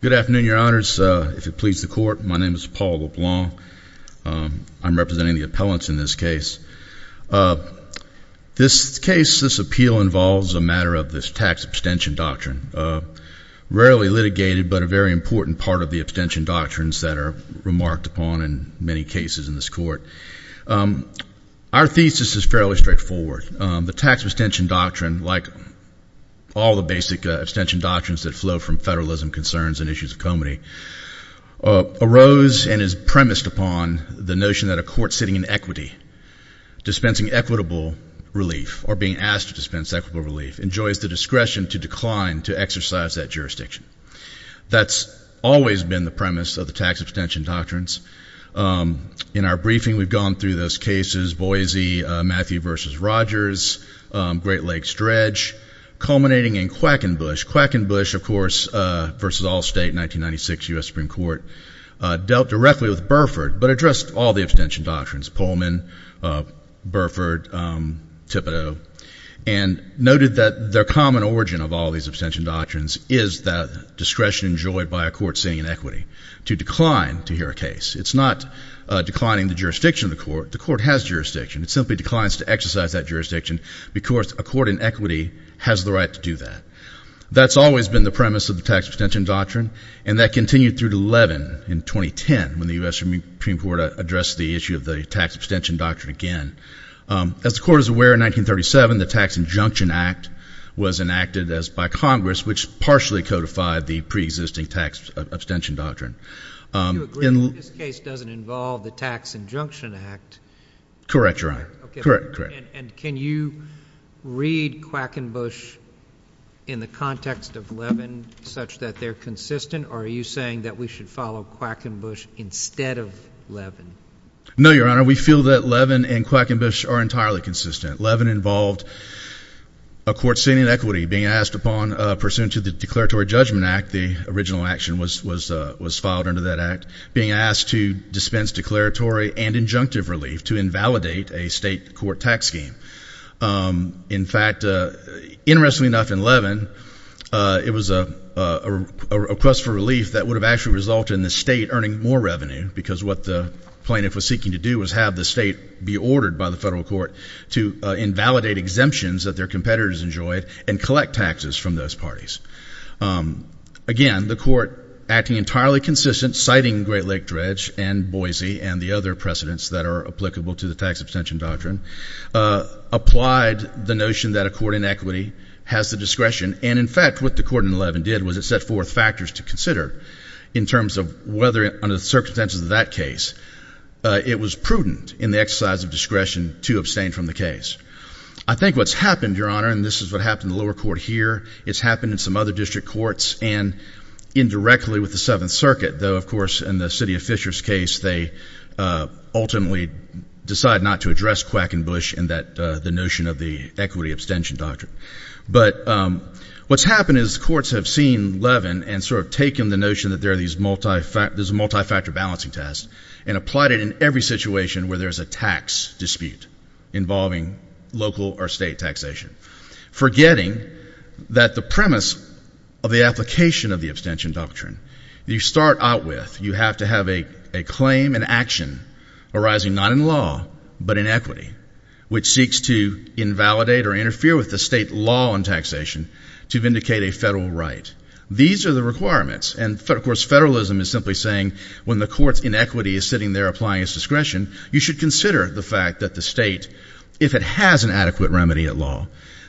Good afternoon, your honors. If it pleases the court, my name is Paul LeBlanc. I'm representing the appellants in this case. This case, this appeal involves a matter of this tax abstention doctrine. Rarely litigated, but a very important part of the abstention doctrines that are fairly straightforward. The tax abstention doctrine, like all the basic abstention doctrines that flow from federalism concerns and issues of comity, arose and is premised upon the notion that a court sitting in equity, dispensing equitable relief, or being asked to dispense equitable relief, enjoys the discretion to decline to exercise that jurisdiction. That's always been the premise of the tax abstention doctrines. In our briefing, we've gone through those cases, Boise, Matthew v. Rogers, Great Lakes Dredge, culminating in Quackenbush. Quackenbush, of course, v. Allstate, 1996 U.S. Supreme Court, dealt directly with Burford, but addressed all the abstention doctrines, Pullman, Burford, Thibodeau, and noted that their common origin of all these abstention doctrines is that discretion enjoyed by a court sitting in equity to decline to hear a case. It's not declining the jurisdiction of the court. The court has jurisdiction. It simply declines to exercise that jurisdiction because a court in equity has the right to do that. That's always been the premise of the tax abstention doctrine, and that continued through to Levin in 2010, when the U.S. Supreme Court addressed the issue of the tax abstention doctrine again. As the Court is aware, in 1937, the Tax Injunction Act was enacted by Congress, which partially codified the pre-existing tax abstention doctrine. Do you agree that this case doesn't involve the Tax Injunction Act? Correct, Your Honor. And can you read Quackenbush in the context of Levin such that they're consistent, or are you saying that we should follow Quackenbush instead of Levin? No, Your Honor. We feel that Levin and Quackenbush are entirely consistent. Levin involved a court sitting in equity being asked upon pursuant to the Declaratory Judgment Act, the original action was filed under that act, being asked to dispense declaratory and injunctive relief to invalidate a state court tax scheme. In fact, interestingly enough, in Levin, it was a request for relief that would have actually resulted in the state earning more revenue because what the plaintiff was seeking to do was have the state be ordered by the federal court to invalidate exemptions that their competitors enjoyed and collect taxes from those parties. Again, the court acting entirely consistent, citing Great Lake Dredge and Boise and the other precedents that are applicable to the tax abstention doctrine, applied the notion that a court in equity has the discretion. And in fact, what the court in Levin did was it set forth factors to consider in terms of whether under the circumstances of that case it was prudent in the exercise of discretion to abstain from the case. I think what's happened, Your Honor, and this is what happened in the lower court here, it's happened in some other district courts and indirectly with the Seventh Circuit, though of course in the city of Fisher's case they ultimately decide not to address Quackenbush and the notion of the equity abstention doctrine. But what's happened is courts have seen Levin and sort of taken the notion that there are these multi-factor balancing tests and applied it in every situation where there's a tax dispute involving local or state taxation, forgetting that the premise of the application of the abstention doctrine, you start out with, you have to have a claim and action arising not in law but in equity, which seeks to invalidate or interfere with the state law on taxation to vindicate a federal right. These are the requirements. And of course federalism is simply saying when the court's in there applying its discretion, you should consider the fact that the state, if it has an adequate remedy at law,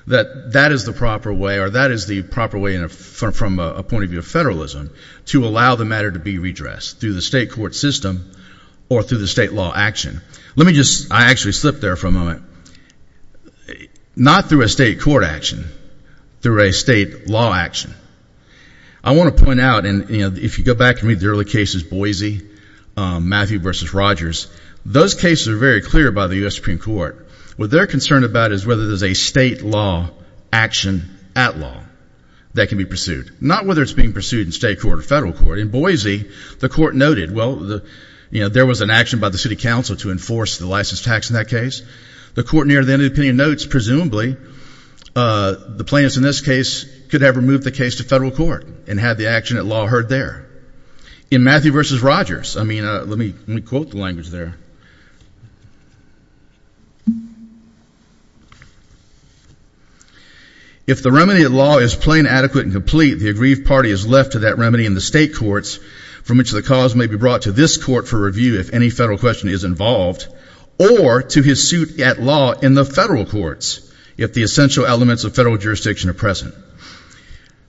that that is the proper way or that is the proper way from a point of view of federalism to allow the matter to be redressed through the state court system or through the state law action. Let me just, I actually slipped there for a moment, not through a state court action, through a state law action. I want to point out, and if you go back and read the early cases, Boise, Matthew v. Rogers, those cases are very clear by the U.S. Supreme Court. What they're concerned about is whether there's a state law action at law that can be pursued, not whether it's being pursued in state court or federal court. In Boise, the court noted, well, you know, there was an action by the city council to enforce the license tax in that case. The court near the end of the opinion notes, presumably, the plaintiffs in this case could have removed the case to federal court and had the action at law heard there. In Matthew v. Rogers, I mean, let me quote the language there. If the remedy at law is plain, adequate, and complete, the aggrieved party is left to that remedy in the state courts from which the cause may be brought to this court for review if any federal question is involved or to his suit at law in the federal courts if the essential elements of federal jurisdiction are present.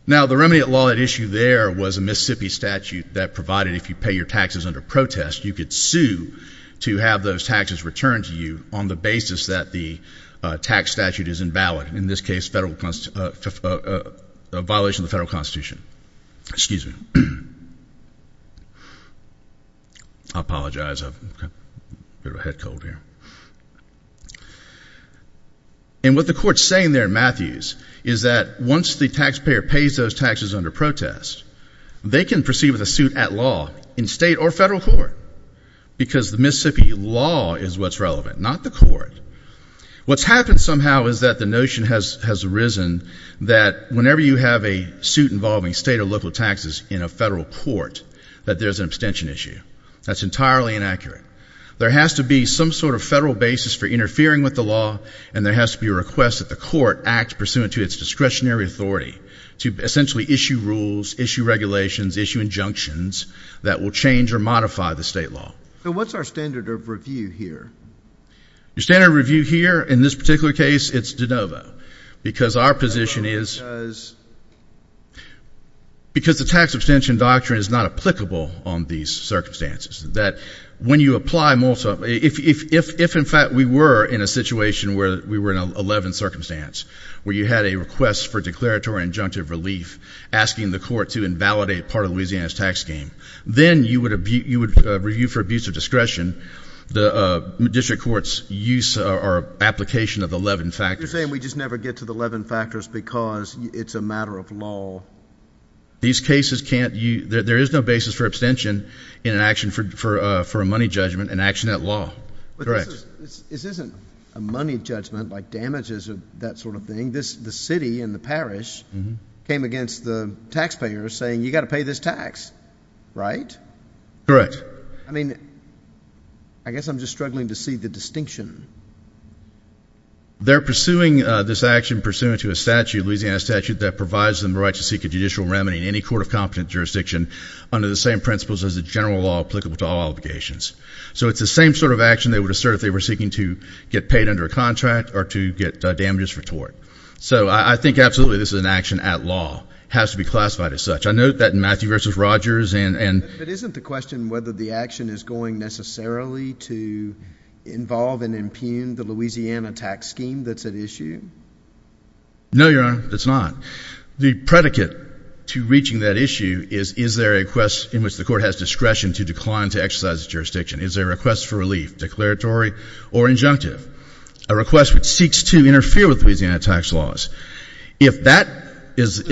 Now, the remedy at law at issue there was a Mississippi statute that provided if you pay your taxes under protest, you could sue to have those taxes returned to you on the basis that the tax statute is invalid, in this case, a violation of the federal constitution. Excuse me. I apologize. I've got a bit of a head cold here. And what the court's saying there in Matthews is that once the taxpayer pays those taxes under protest, they can proceed with a suit at law in state or federal court because the Mississippi law is what's relevant, not the court. What's happened somehow is that the notion has arisen that whenever you have a suit involving state or local taxes in a federal court, that there's an abstention issue. That's entirely inaccurate. There has to be some sort of federal basis for interfering with the law, and there has to be a request that the court act pursuant to its discretionary authority to essentially issue rules, issue regulations, issue injunctions that will change or modify the state law. So what's our standard of review here? Your standard of review here in this particular case, it's de novo because our position is because the tax abstention doctrine is not applicable on these circumstances, that when you apply multiple, if in fact we were in a situation where we were in an 11 circumstance, where you had a request for declaratory injunctive relief asking the court to invalidate part of Louisiana's tax scheme, then you would review for abuse of discretion the district court's use or application of the 11 factors. You're saying we just never get to the 11 factors because it's a matter of law. These cases can't, there is no basis for abstention in an action for a money judgment, an action at law. Correct. This isn't a money judgment, like damages or that sort of thing. The city and the parish came against the taxpayers saying you've got to pay this tax, right? Correct. I mean, I guess I'm just struggling to see the distinction. They're pursuing this action pursuant to a statute, Louisiana statute, that provides them the right to seek a judicial remedy in any court of competent jurisdiction under the same principles as the general law applicable to all obligations. So it's the same sort of action they would assert if they were seeking to get paid under a contract or to get damages for tort. So I think absolutely this is an action at law, has to be classified as such. I note that in Matthew versus Rogers and... But isn't the question whether the action is going necessarily to involve and impugn the Louisiana tax scheme that's at issue? No, Your Honor, it's not. The predicate to reaching that issue is, is there a request in which the court has discretion to decline to exercise its jurisdiction? Is there a request for relief, declaratory or injunctive? A request which seeks to interfere with Louisiana tax laws? If that is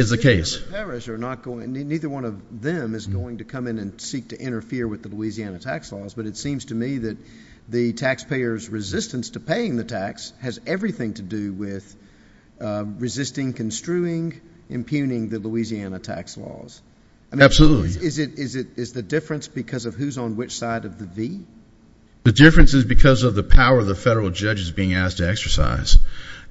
the case... The city and the parish are not going, neither one of them is going to come in and seek to interfere with the Louisiana tax laws, but it seems to me that the taxpayers' resistance to paying the tax has everything to do with resisting, construing, impugning the Louisiana tax laws. Absolutely. I mean, is it, is it, is the difference because of who's on which side of the V? The difference is because of the power the federal judge is being asked to exercise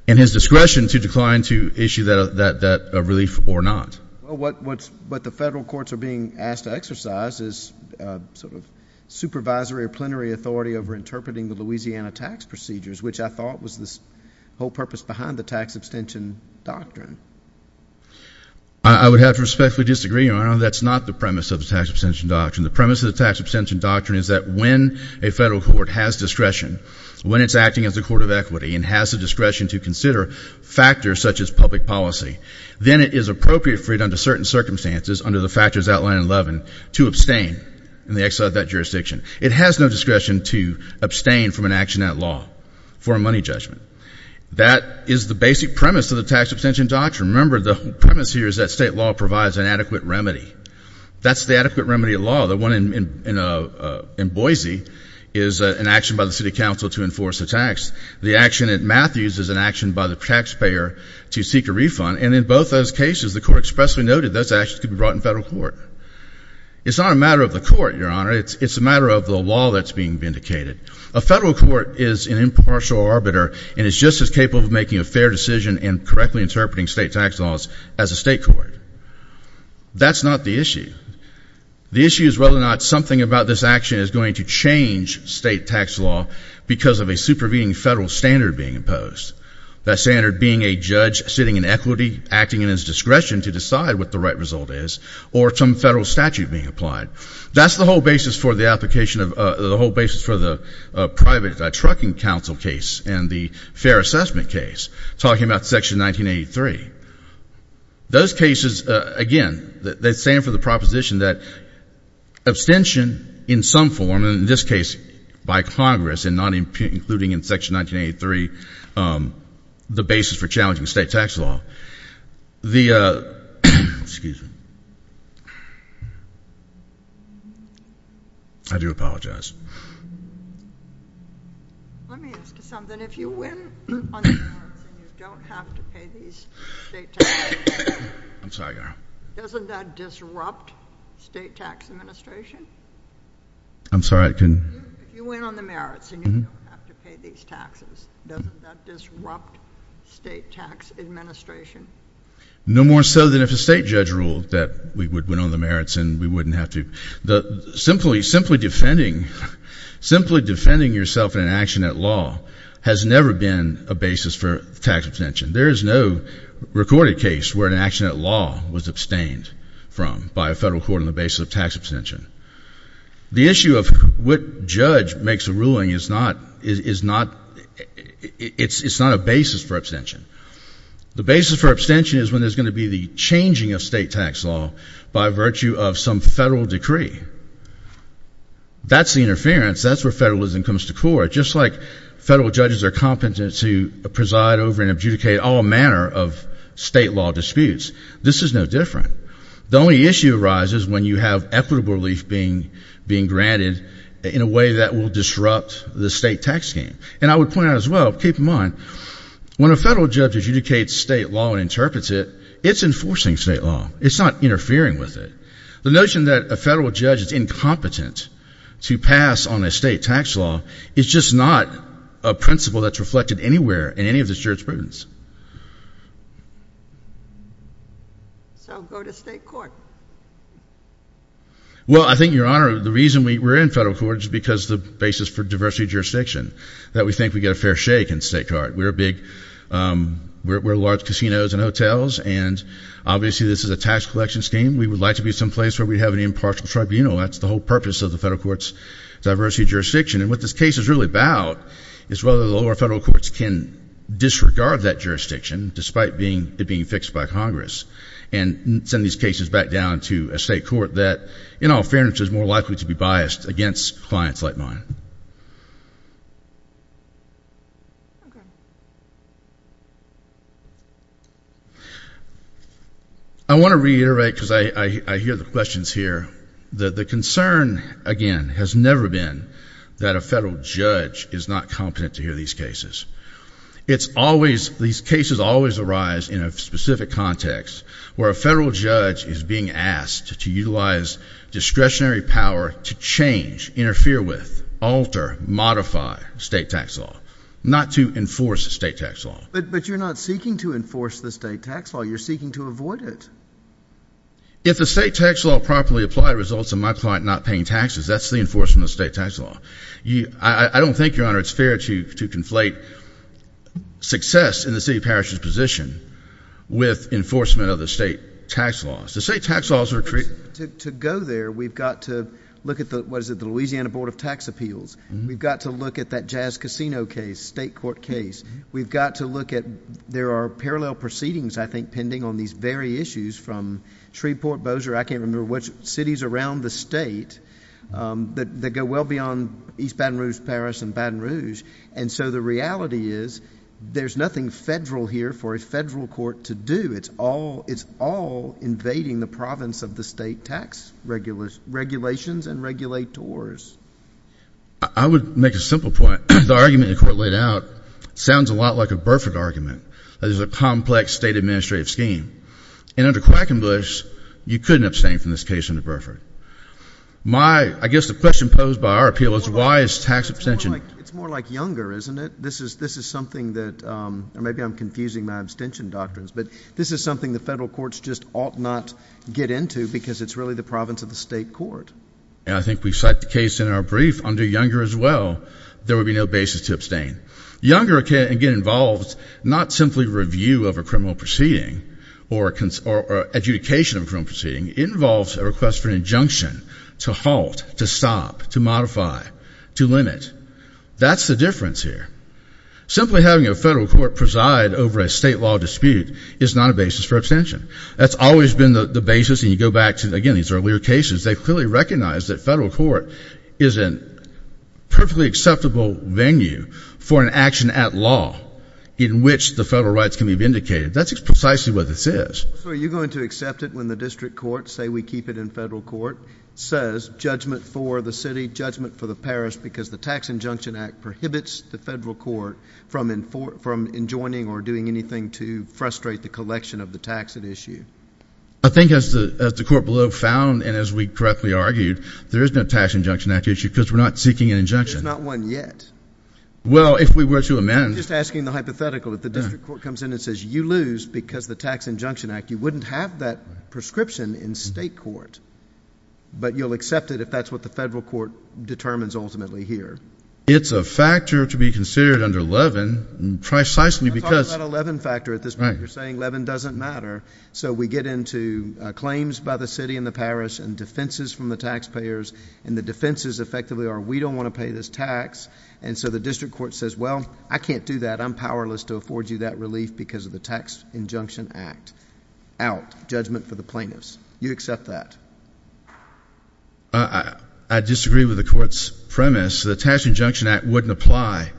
and his discretion to decline to issue that, that, that relief or not. Well, what, what's, what the federal courts are being asked to exercise is sort of supervisory plenary authority over interpreting the Louisiana tax procedures, which I thought was the whole purpose behind the tax abstention doctrine. I would have to respectfully disagree, Your Honor. That's not the premise of the tax abstention doctrine. The premise of the tax abstention doctrine is that when a federal court has discretion, when it's acting as a court of equity and has the discretion to consider factors such as public policy, then it is appropriate for it under certain circumstances, under the factors outlined in 11, to abstain in the exile of that jurisdiction. It has no discretion to abstain from an action at law for a money judgment. That is the basic premise of the tax abstention doctrine. Remember, the premise here is that state law provides an adequate remedy. That's the adequate remedy of law. The one in, in, in Boise is an action by the city council to enforce a tax. The action at Matthews is an action by the taxpayer to seek a refund. And in both those cases, the court expressly noted those actions could be brought in federal court. It's not a matter of the court, Your Honor. It's a matter of the law that's being vindicated. A federal court is an impartial arbiter and is just as capable of making a fair decision in correctly interpreting state tax laws as a state court. That's not the issue. The issue is whether or not something about this action is going to change state tax law because of a supervening federal standard being imposed. That standard being a judge sitting in equity, acting in his discretion to decide what the right result is, or some federal statute being applied. That's the whole basis for the application of, the whole basis for the private trucking council case and the fair assessment case, talking about Section 1983. Those cases, again, they stand for the proposition that abstention in some form, and in this case, by Congress and not including in Section 1983, the basis for challenging state tax law. The, excuse me. I do apologize. Let me ask you something. If you win on the courts and you don't have to pay these state tax bills, doesn't that disrupt state tax administration? I'm sorry. I'm sorry. I'm sorry. I'm sorry. I'm sorry. I'm sorry. I'm sorry. I'm sorry. If you win on the merits and you don't have to pay these taxes, doesn't that disrupt state tax administration? No more so than if a state judge ruled that we would win on the merits and we wouldn't have to. The, simply, simply defending, simply defending yourself in an action at law has never been a basis for tax abstention. There is no recorded case where an action at law was abstained from by a federal court on the basis of tax abstention. The issue of what judge makes a ruling is not, is not, it's not a basis for abstention. The basis for abstention is when there's going to be the changing of state tax law by virtue of some federal decree. That's the interference. That's where federalism comes to court. Just like federal judges are competent to preside over and adjudicate all manner of state law disputes. This is no different. The only issue arises when you have equitable relief being, being granted in a way that will disrupt the state tax scheme. And I would point out as well, keep in mind, when a federal judge adjudicates state law and interprets it, it's enforcing state law. It's not interfering with it. The notion that a federal judge is incompetent to pass on a state tax law is just not a principle that's reflected anywhere in any of this jurisprudence. So, go to state court. Well, I think, Your Honor, the reason we're in federal court is because the basis for diversity of jurisdiction, that we think we get a fair shake in state court. We're a big, we're large casinos and hotels, and obviously this is a tax collection scheme. We would like to be someplace where we have an impartial tribunal. That's the whole purpose of the federal court's diversity of jurisdiction, and what this case is really about is whether the lower federal courts can disregard that jurisdiction, despite being, it being fixed by Congress, and send these cases back down to a state court that, in all fairness, is more likely to be biased against clients like mine. I want to reiterate, because I hear the questions here, that the concern, again, has never been that a federal judge is not competent to hear these cases. It's always, these cases always arise in a specific context where a federal judge is being asked to utilize discretionary power to change, interfere with, alter, modify state tax law, not to enforce state tax law. But you're not seeking to enforce the state tax law. You're seeking to avoid it. If the state tax law properly applied results in my client not paying taxes, that's the enforcement of the state tax law. I don't think, Your Honor, it's fair to conflate success in the city parish's position with enforcement of the state tax laws. The state tax laws are created. To go there, we've got to look at the, what is it, the Louisiana Board of Tax Appeals. We've got to look at that Jazz Casino case, state court case. We've got to look at, there are parallel proceedings, I think, pending on these very issues from Shreveport, Bossier, I can't remember which cities around the state that go well beyond East Baton Rouge, Paris, and Baton Rouge. And so the reality is, there's nothing federal here for a federal court to do. It's all invading the province of the state tax regulations and regulators. I would make a simple point. The argument the court laid out sounds a lot like a Burford argument, that it's a complex state administrative scheme. And under Quackenbush, you couldn't abstain from this case under Burford. I guess the question posed by our appeal is, why is tax abstention... It's more like Younger, isn't it? This is something that, or maybe I'm confusing my abstention doctrines, but this is something the federal courts just ought not get into because it's really the province of the state court. I think we cite the case in our brief under Younger as well, there would be no basis to abstain. Younger, again, involves not simply review of a criminal proceeding or adjudication of a criminal proceeding, it involves a request for an injunction to halt, to stop, to modify, to limit. That's the difference here. Simply having a federal court preside over a state law dispute is not a basis for abstention. That's always been the basis, and you go back to, again, these earlier cases, they clearly recognize that federal court is a perfectly acceptable venue for an action at law in which the federal rights can be vindicated. That's precisely what this is. So are you going to accept it when the district courts say, we keep it in federal court, says judgment for the city, judgment for the parish because the tax injunction act prohibits the federal court from enjoining or doing anything to frustrate the collection of the tax at issue? I think as the court below found, and as we correctly argued, there is no tax injunction act issue because we're not seeking an injunction. There's not one yet. Well, if we were to amend. I'm just asking the hypothetical. If the district court comes in and says, you lose because the tax injunction act, you wouldn't have that prescription in state court, but you'll accept it if that's what the federal court determines ultimately here. It's a factor to be considered under Levin, precisely because. It's not a Levin factor at this point. You're saying Levin doesn't matter. So we get into claims by the city and the parish and defenses from the taxpayers and the defenses effectively are, we don't want to pay this tax. And so the district court says, well, I can't do that. I'm powerless to afford you that relief because of the tax injunction act out judgment for the plaintiffs. You accept that? I disagree with the court's premise. The tax injunction act wouldn't apply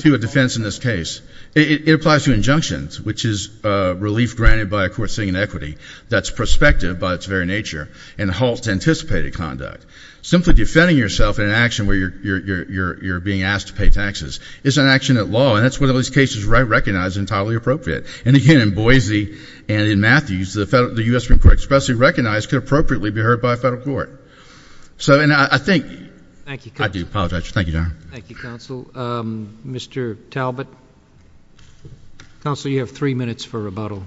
to a defense in this case. It applies to injunctions, which is relief granted by a court sitting in equity that's prospective by its very nature and halts anticipated conduct. Simply defending yourself in an action where you're being asked to pay taxes is an action at law. And that's one of those cases recognized entirely appropriate. And again, in Boise and in Matthews, the U.S. Supreme Court especially recognized could appropriately be heard by a federal court. So and I think. Thank you, counsel. I do apologize. Thank you, Your Honor. Thank you, counsel. Mr. Talbot. Counsel, you have three minutes for rebuttal.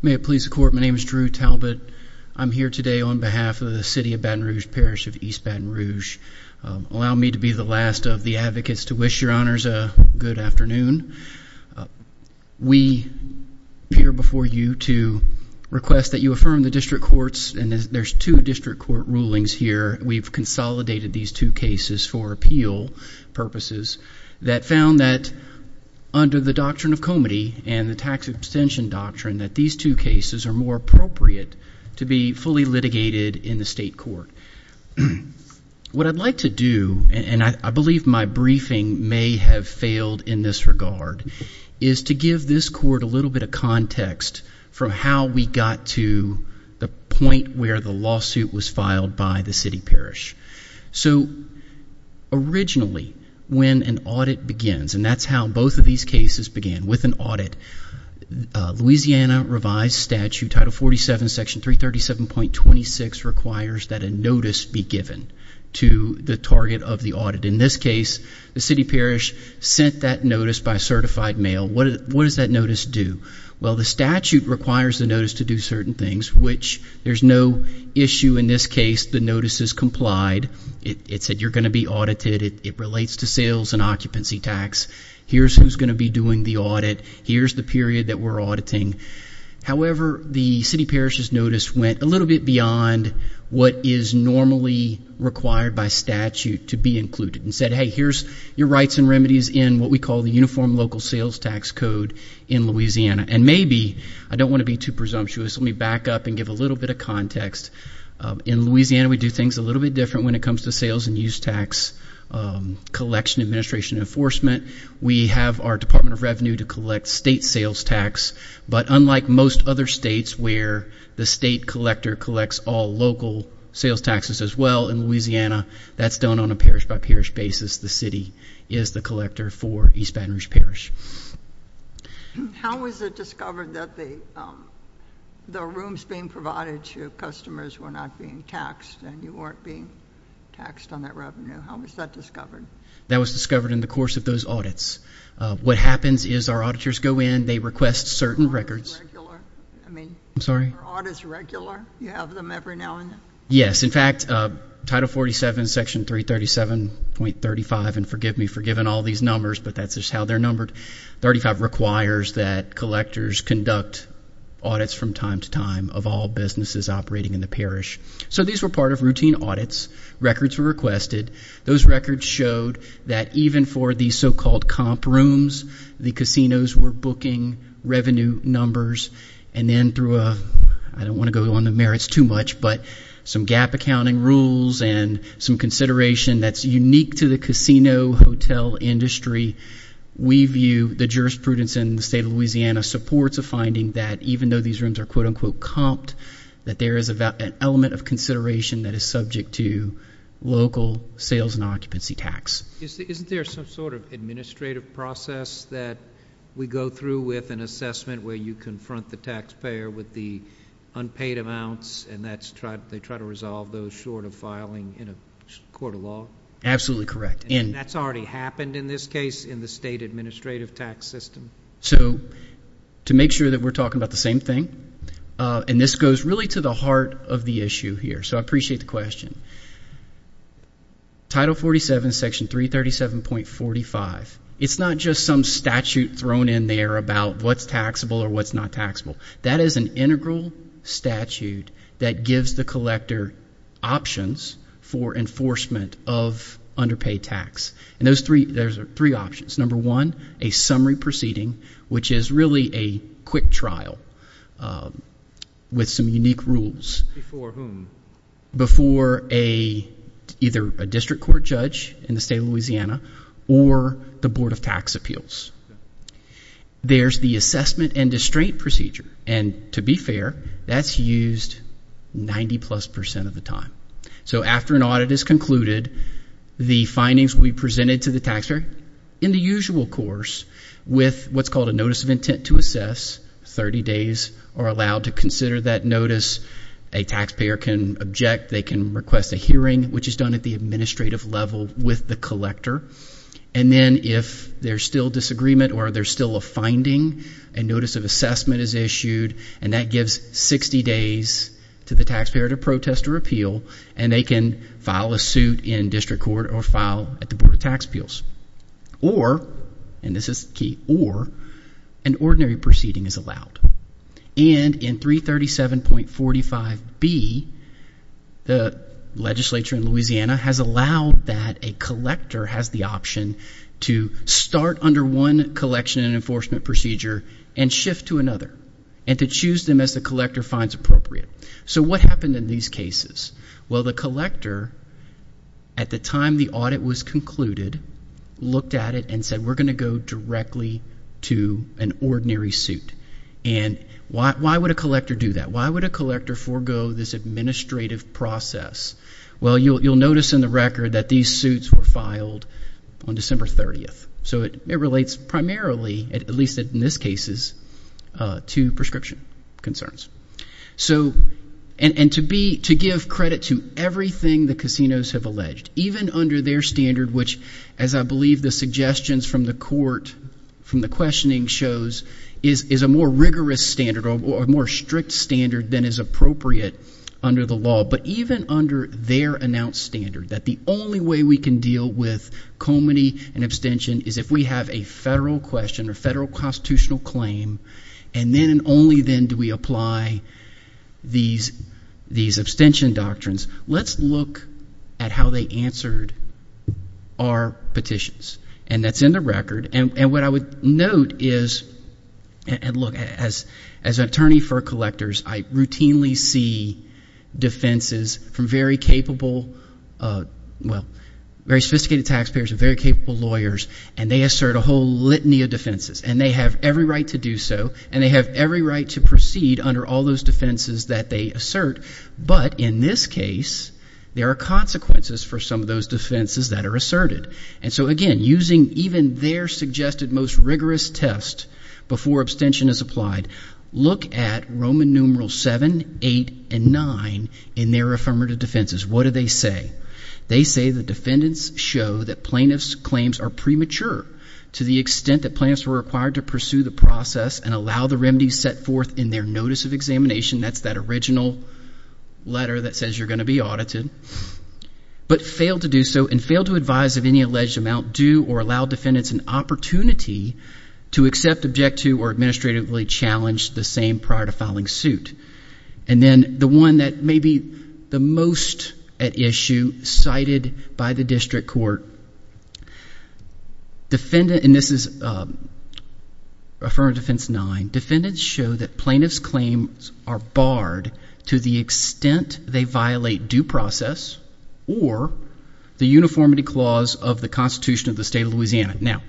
May it please the court. My name is Drew Talbot. I'm here today on behalf of the city of Baton Rouge Parish of East Baton Rouge. Allow me to be the last of the advocates to wish Your Honors a good afternoon. We appear before you to request that you affirm the district courts. And there's two district court rulings here. We've consolidated these two cases for appeal purposes that found that under the doctrine of comity and the tax abstention doctrine that these two cases are more appropriate to be fully litigated in the state court. What I'd like to do, and I believe my briefing may have failed in this regard, is to give this court a little bit of context from how we got to the point where the lawsuit was filed by the city parish. So originally when an audit begins, and that's how both of these cases began, with an audit, Louisiana revised statute, Title 47, Section 337.26, requires that a notice be given to the target of the audit. In this case, the city parish sent that notice by certified mail. What does that notice do? Well, the statute requires the notice to do certain things, which there's no issue in this case. The notice is complied. It said you're going to be audited. It relates to sales and occupancy tax. Here's who's going to be doing the audit. Here's the period that we're auditing. However, the city parish's notice went a little bit beyond what is normally required by statute to be included and said, hey, here's your rights and remedies in what we call the Uniform Local Sales Tax Code in Louisiana. And maybe, I don't want to be too presumptuous, let me back up and give a little bit of context. In Louisiana we do things a little bit different when it comes to sales and use tax collection, administration, and enforcement. We have our Department of Revenue to collect state sales tax, but unlike most other states where the state collector collects all local sales taxes as well in Louisiana, that's done on a parish-by-parish basis. The city is the collector for East Baton Rouge Parish. How was it discovered that the rooms being provided to customers were not being taxed and you weren't being taxed on that revenue? How was that discovered? That was discovered in the course of those audits. What happens is our auditors go in, they request certain records. I mean, are audits regular? You have them every now and then? Yes. In fact, Title 47, Section 337.35, and forgive me for giving all these numbers, but that's just how they're numbered, 35, requires that collectors conduct audits from time to time of all businesses operating in the parish. So these were part of routine audits. Records were requested. Those records showed that even for the so-called comp rooms, the casinos were booking revenue numbers, and then through a ñ I don't want to go on the merits too much, but some gap accounting rules and some consideration that's unique to the casino hotel industry, we view the jurisprudence in the state of Louisiana supports a finding that even though these rooms are ìcomped,î that there is an element of consideration that is subject to local sales and occupancy tax. Isn't there some sort of administrative process that we go through with an assessment where you confront the taxpayer with the unpaid amounts, and they try to resolve those short of filing in a court of law? Absolutely correct. And that's already happened in this case in the state administrative tax system? So to make sure that we're talking about the same thing, and this goes really to the heart of the issue here, so I appreciate the question. Title 47, Section 337.45, it's not just some statute thrown in there about what's taxable or what's not taxable. That is an integral statute that gives the collector options for enforcement of underpaid tax, and there's three options. Number one, a summary proceeding, which is really a quick trial with some unique rules. Before whom? Before either a district court judge in the state of Louisiana or the Board of Tax Appeals. There's the assessment and restraint procedure, and to be fair, that's used 90-plus percent of the time. So after an audit is concluded, the findings will be presented to the taxpayer in the usual course with what's called a notice of intent to assess. Thirty days are allowed to consider that notice. A taxpayer can object. They can request a hearing, which is done at the administrative level with the collector. And then if there's still disagreement or there's still a finding, a notice of assessment is issued, and that gives 60 days to the taxpayer to protest or appeal, and they can file a suit in district court or file at the Board of Tax Appeals. Or, and this is key, or an ordinary proceeding is allowed. And in 337.45B, the legislature in Louisiana has allowed that a collector has the option to start under one collection and enforcement procedure and shift to another, and to choose them as the collector finds appropriate. So what happened in these cases? Well, the collector, at the time the audit was concluded, looked at it and said, we're going to go directly to an ordinary suit. And why would a collector do that? Why would a collector forego this administrative process? Well, you'll notice in the record that these suits were filed on December 30th. So it relates primarily, at least in this case, to prescription concerns. And to give credit to everything the casinos have alleged, even under their standard, which, as I believe the suggestions from the court, from the questioning shows, is a more rigorous standard or a more strict standard than is appropriate under the law. But even under their announced standard, that the only way we can deal with comity and abstention is if we have a federal question or federal constitutional claim, and then and only then do we apply these abstention doctrines. Let's look at how they answered our petitions. And that's in the record. And what I would note is, and look, as an attorney for collectors, I routinely see defenses from very capable, well, very sophisticated taxpayers and very capable lawyers, and they assert a whole litany of defenses. And they have every right to do so, and they have every right to proceed under all those defenses that they assert. But in this case, there are consequences for some of those defenses that are asserted. And so, again, using even their suggested most rigorous test before abstention is applied, look at Roman numeral 7, 8, and 9 in their affirmative defenses. What do they say? They say the defendants show that plaintiffs' claims are premature to the extent that plaintiffs were required to pursue the process and allow the remedies set forth in their notice of examination. That's that original letter that says you're going to be audited. But fail to do so and fail to advise of any alleged amount due or allow defendants an opportunity to accept, object to, or administratively challenge the same prior to filing suit. And then the one that may be the most at issue cited by the district court, defendant, and this is affirmative defense 9, defendants show that plaintiffs' claims are barred to the extent they violate due process or the uniformity clause of the Constitution of the State of Louisiana. Now,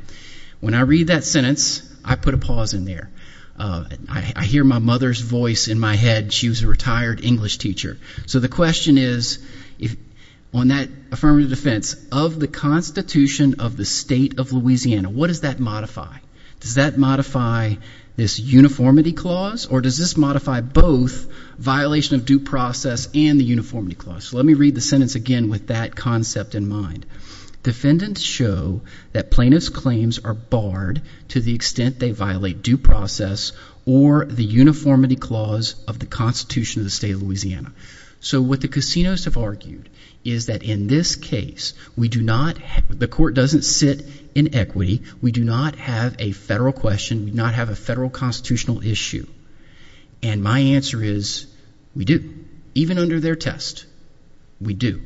when I read that sentence, I put a pause in there. I hear my mother's voice in my head. She was a retired English teacher. So the question is, on that affirmative defense, of the Constitution of the State of Louisiana, what does that modify? Does that modify this uniformity clause or does this modify both violation of due process and the uniformity clause? So let me read the sentence again with that concept in mind. Defendants show that plaintiffs' claims are barred to the extent they violate due process or the uniformity clause of the Constitution of the State of Louisiana. So what the casinos have argued is that in this case, we do not have the court doesn't sit in equity. We do not have a federal question. We do not have a federal constitutional issue. And my answer is we do. Even under their test, we do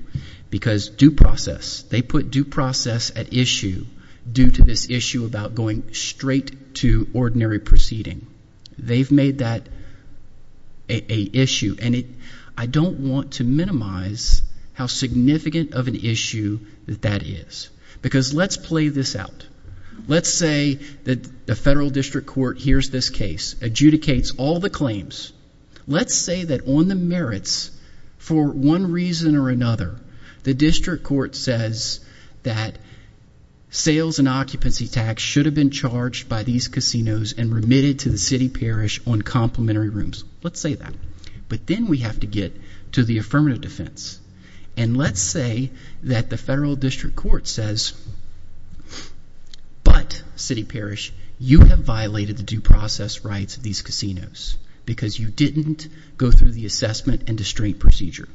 because due process, they put due process at issue due to this issue about going straight to ordinary proceeding. They've made that an issue, and I don't want to minimize how significant of an issue that that is because let's play this out. Let's say that the federal district court hears this case, adjudicates all the claims. Let's say that on the merits, for one reason or another, the district court says that sales and occupancy tax should have been charged by these casinos and remitted to the city parish on complimentary rooms. Let's say that. But then we have to get to the affirmative defense. And let's say that the federal district court says, but city parish, you have violated the due process rights of these casinos because you didn't go through the assessment and restraint procedure.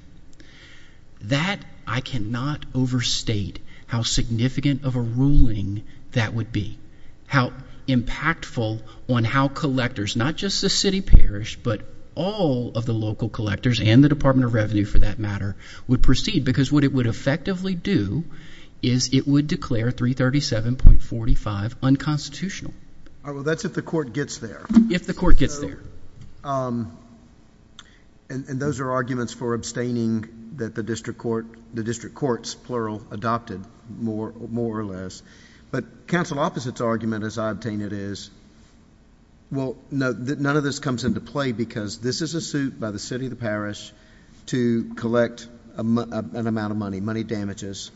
That I cannot overstate how significant of a ruling that would be, how impactful on how collectors, not just the city parish, but all of the local collectors and the Department of Revenue, for that matter, would proceed because what it would effectively do is it would declare 337.45 unconstitutional. All right. Well, that's if the court gets there. If the court gets there. And those are arguments for abstaining that the district courts, plural, adopted, more or less. But counsel opposite's argument, as I obtain it, is, well, none of this comes into play because this is a suit by the city of the parish to collect an amount of money, money damages.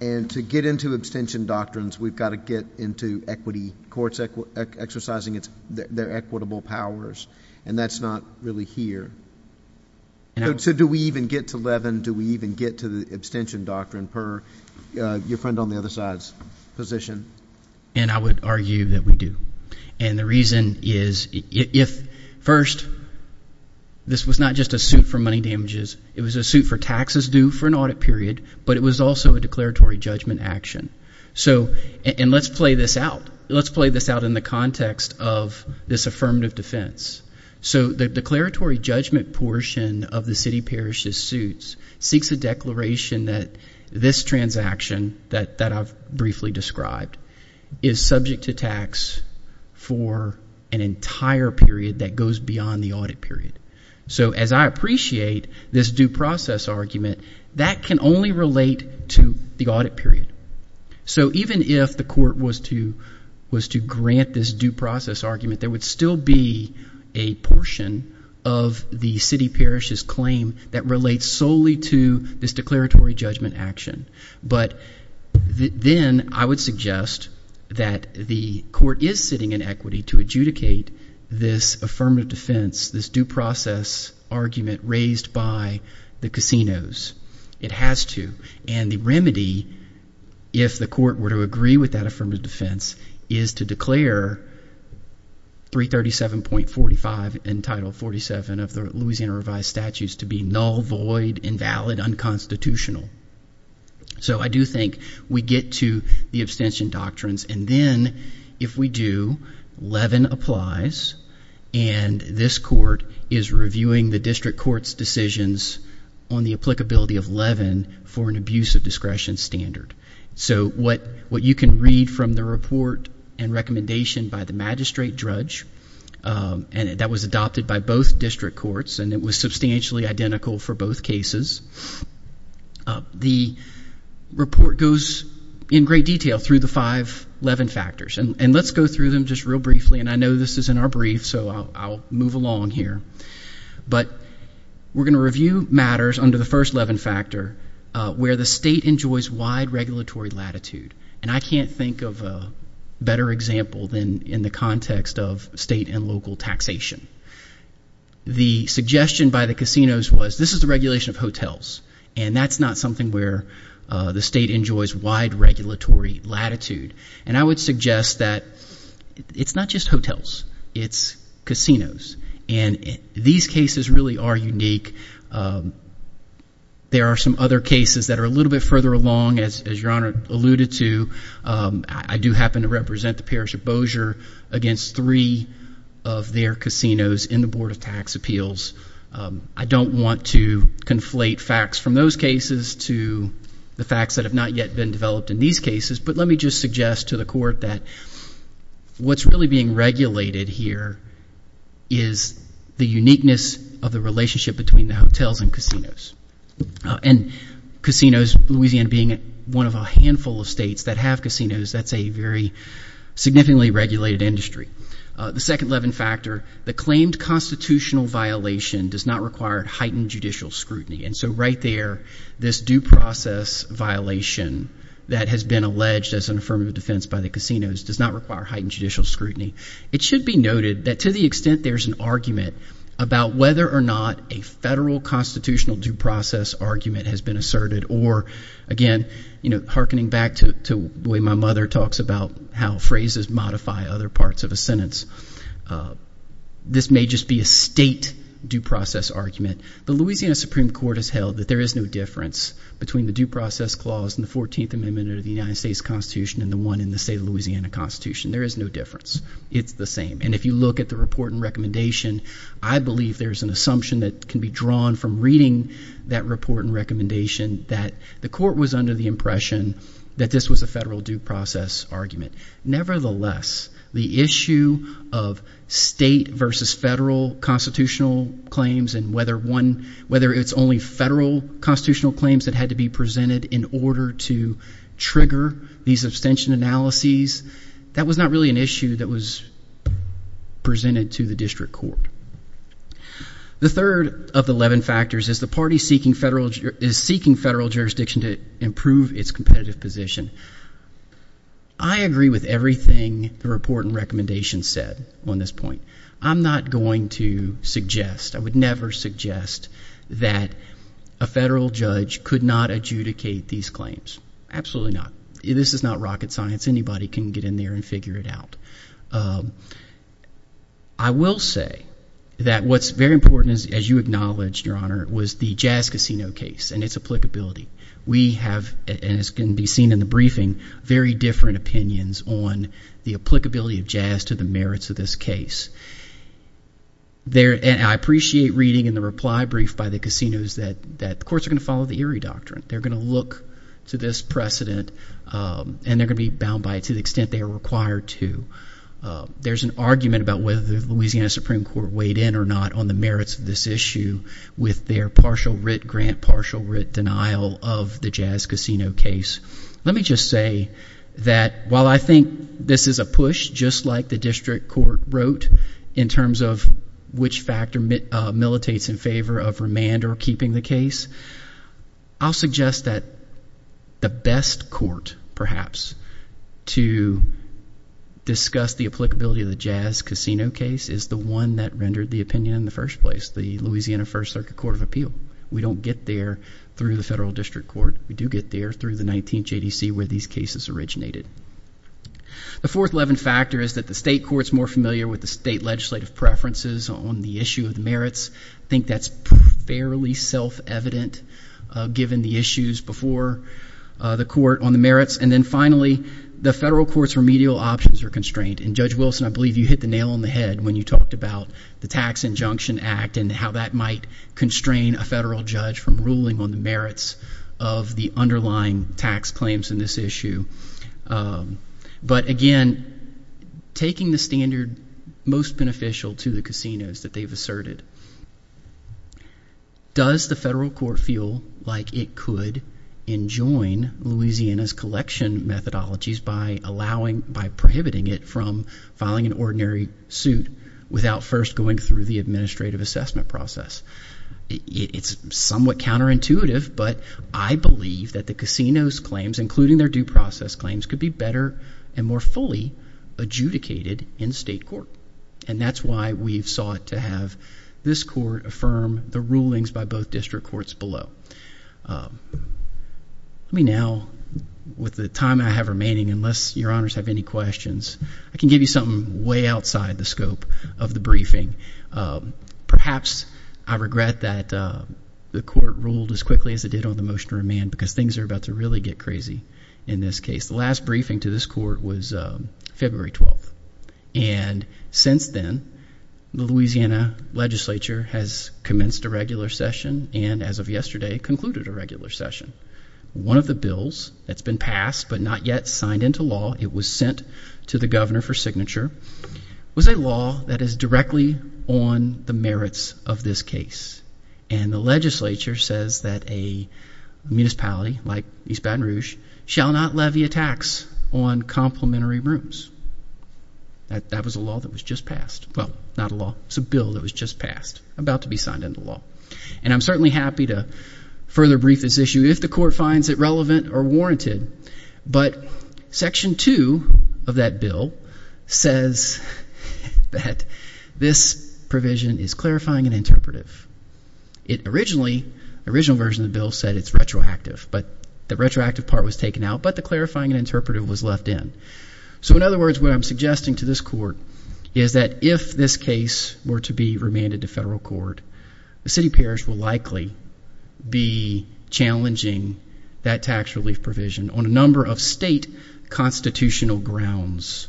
And to get into abstention doctrines, we've got to get into equity courts exercising their equitable powers. And that's not really here. So do we even get to Levin? Do we even get to the abstention doctrine per your friend on the other side's position? And I would argue that we do. And the reason is, first, this was not just a suit for money damages. It was a suit for taxes due for an audit period, but it was also a declaratory judgment action. And let's play this out. Let's play this out in the context of this affirmative defense. So the declaratory judgment portion of the city parish's suits seeks a declaration that this transaction, that I've briefly described, is subject to tax for an entire period that goes beyond the audit period. So as I appreciate this due process argument, that can only relate to the audit period. So even if the court was to grant this due process argument, there would still be a portion of the city parish's claim that relates solely to this declaratory judgment action. But then I would suggest that the court is sitting in equity to adjudicate this affirmative defense, this due process argument raised by the casinos. It has to. And the remedy, if the court were to agree with that affirmative defense, is to declare 337.45 in Title 47 of the Louisiana Revised Statutes to be null, void, invalid, unconstitutional. So I do think we get to the abstention doctrines. And then if we do, Levin applies, and this court is reviewing the district court's decisions on the applicability of Levin for an abuse of discretion standard. So what you can read from the report and recommendation by the magistrate judge, and that was adopted by both district courts and it was substantially identical for both cases, the report goes in great detail through the five Levin factors. And let's go through them just real briefly, and I know this is in our brief, so I'll move along here. But we're going to review matters under the first Levin factor where the state enjoys wide regulatory latitude. And I can't think of a better example than in the context of state and local taxation. The suggestion by the casinos was this is the regulation of hotels, and that's not something where the state enjoys wide regulatory latitude. And I would suggest that it's not just hotels. It's casinos. And these cases really are unique. There are some other cases that are a little bit further along, as Your Honor alluded to. I do happen to represent the parish of Bossier against three of their casinos in the Board of Tax Appeals. I don't want to conflate facts from those cases to the facts that have not yet been developed in these cases, but let me just suggest to the Court that what's really being regulated here is the uniqueness of the relationship between the hotels and casinos. And casinos, Louisiana being one of a handful of states that have casinos, that's a very significantly regulated industry. The second Levin factor, the claimed constitutional violation does not require heightened judicial scrutiny. And so right there, this due process violation that has been alleged as an affirmative defense by the casinos does not require heightened judicial scrutiny. It should be noted that to the extent there's an argument about whether or not a federal constitutional due process argument has been asserted or, again, you know, harkening back to the way my mother talks about how phrases modify other parts of a sentence, this may just be a state due process argument. The Louisiana Supreme Court has held that there is no difference between the due process clause in the 14th Amendment of the United States Constitution and the one in the state of Louisiana Constitution. There is no difference. It's the same. And if you look at the report and recommendation, I believe there's an assumption that can be drawn from reading that report and recommendation that the Court was under the impression that this was a federal due process argument. Nevertheless, the issue of state versus federal constitutional claims and whether it's only federal constitutional claims that had to be presented in order to trigger these abstention analyses, that was not really an issue that was presented to the district court. The third of the Levin factors is the party is seeking federal jurisdiction to improve its competitive position. I agree with everything the report and recommendation said on this point. I'm not going to suggest, I would never suggest that a federal judge could not adjudicate these claims. Absolutely not. This is not rocket science. Anybody can get in there and figure it out. I will say that what's very important, as you acknowledged, Your Honor, was the Jazz Casino case and its applicability. We have, and it's going to be seen in the briefing, very different opinions on the applicability of jazz to the merits of this case. I appreciate reading in the reply brief by the casinos that the courts are going to follow the Erie Doctrine. They're going to look to this precedent, and they're going to be bound by it to the extent they are required to. There's an argument about whether the Louisiana Supreme Court weighed in or not on the merits of this issue with their partial writ grant, partial writ denial of the Jazz Casino case. Let me just say that while I think this is a push, just like the district court wrote, in terms of which factor militates in favor of remand or keeping the case, I'll suggest that the best court, perhaps, to discuss the applicability of the Jazz Casino case is the one that rendered the opinion in the first place, the Louisiana First Circuit Court of Appeal. We don't get there through the federal district court. We do get there through the 19th JDC, where these cases originated. The fourth levin factor is that the state court is more familiar with the state legislative preferences on the issue of the merits. I think that's fairly self-evident, given the issues before the court on the merits. And then finally, the federal court's remedial options are constrained. And Judge Wilson, I believe you hit the nail on the head when you talked about the Tax Injunction Act and how that might constrain a federal judge from ruling on the merits of the underlying tax claims in this issue. But again, taking the standard most beneficial to the casinos that they've asserted, does the federal court feel like it could enjoin Louisiana's collection methodologies by prohibiting it from filing an ordinary suit without first going through the administrative assessment process? It's somewhat counterintuitive, but I believe that the casinos' claims, including their due process claims, could be better and more fully adjudicated in state court. And that's why we've sought to have this court affirm the rulings by both district courts below. Let me now, with the time I have remaining, unless your honors have any questions, I can give you something way outside the scope of the briefing. Perhaps I regret that the court ruled as quickly as it did on the motion to remand, because things are about to really get crazy in this case. The last briefing to this court was February 12th. And since then, the Louisiana legislature has commenced a regular session, and as of yesterday, concluded a regular session. One of the bills that's been passed but not yet signed into law, it was sent to the governor for signature, was a law that is directly on the merits of this case. And the legislature says that a municipality like East Baton Rouge shall not levy a tax on complimentary rooms. That was a law that was just passed. Well, not a law, it's a bill that was just passed, about to be signed into law. And I'm certainly happy to further brief this issue if the court finds it relevant or warranted. But Section 2 of that bill says that this provision is clarifying and interpretive. It originally, the original version of the bill said it's retroactive, but the retroactive part was taken out, but the clarifying and interpretive was left in. So in other words, what I'm suggesting to this court is that if this case were to be remanded to federal court, the city parish will likely be challenging that tax relief provision on a number of state constitutional grounds.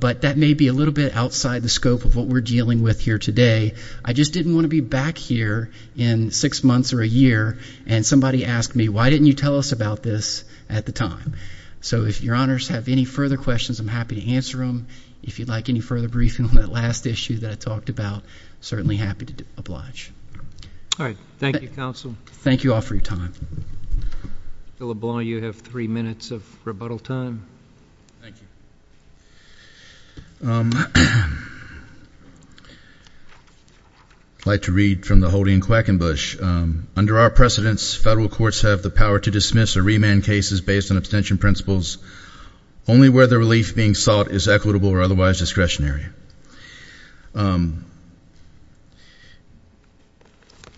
But that may be a little bit outside the scope of what we're dealing with here today. I just didn't want to be back here in six months or a year and somebody asked me, why didn't you tell us about this at the time? So if your honors have any further questions, I'm happy to answer them. If you'd like any further briefing on that last issue that I talked about, certainly happy to oblige. All right. Thank you, counsel. Thank you all for your time. Bill LeBlanc, you have three minutes of rebuttal time. Thank you. I'd like to read from the Hody and Quackenbush. Under our precedents, federal courts have the power to dismiss or remand cases based on abstention principles. Only where the relief being sought is equitable or otherwise discretionary.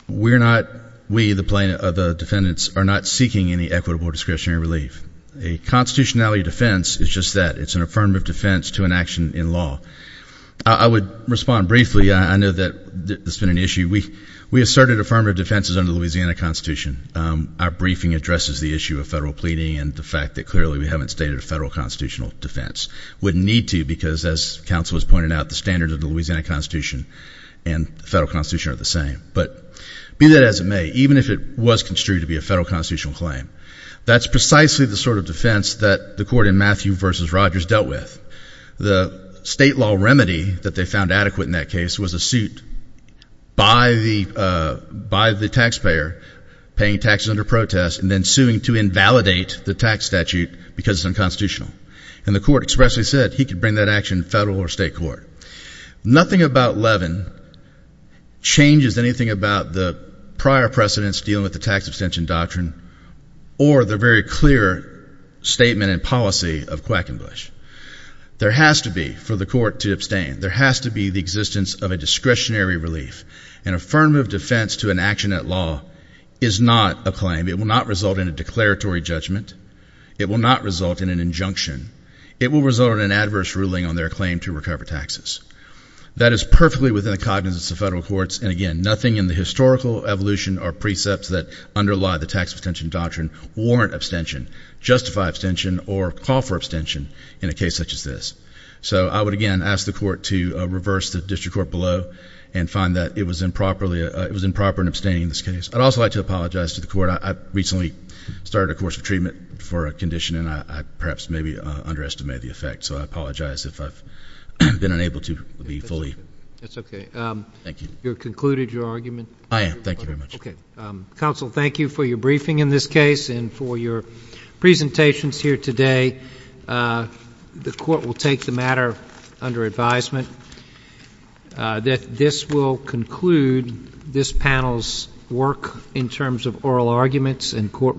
We, the defendants, are not seeking any equitable or discretionary relief. A constitutionality defense is just that. It's an affirmative defense to an action in law. I would respond briefly. I know that this has been an issue. We asserted affirmative defenses under the Louisiana Constitution. Our briefing addresses the issue of federal pleading and the fact that, clearly, we haven't stated a federal constitutional defense. We need to because, as counsel has pointed out, the standards of the Louisiana Constitution and the federal constitution are the same. But be that as it may, even if it was construed to be a federal constitutional claim, that's precisely the sort of defense that the court in Matthew v. Rogers dealt with. The state law remedy that they found adequate in that case was a suit by the taxpayer paying taxes under protest and then suing to invalidate the tax statute because it's unconstitutional. And the court expressly said he could bring that action to federal or state court. Nothing about Levin changes anything about the prior precedents dealing with the tax abstention doctrine or the very clear statement and policy of Quackenbush. There has to be, for the court to abstain, there has to be the existence of a discretionary relief. An affirmative defense to an action at law is not a claim. It will not result in a declaratory judgment. It will not result in an injunction. It will result in an adverse ruling on their claim to recover taxes. That is perfectly within the cognizance of federal courts. And, again, nothing in the historical evolution or precepts that underlie the tax abstention doctrine warrant abstention, justify abstention, or call for abstention in a case such as this. So I would, again, ask the court to reverse the district court below and find that it was improper in abstaining in this case. I'd also like to apologize to the court. I recently started a course of treatment for a condition, and I perhaps maybe underestimated the effect. So I apologize if I've been unable to be fully. That's okay. Thank you. You've concluded your argument? I am. Thank you very much. Okay. Counsel, thank you for your briefing in this case and for your presentations here today. The court will take the matter under advisement. This will conclude this panel's work in terms of oral arguments, and court will adjourn.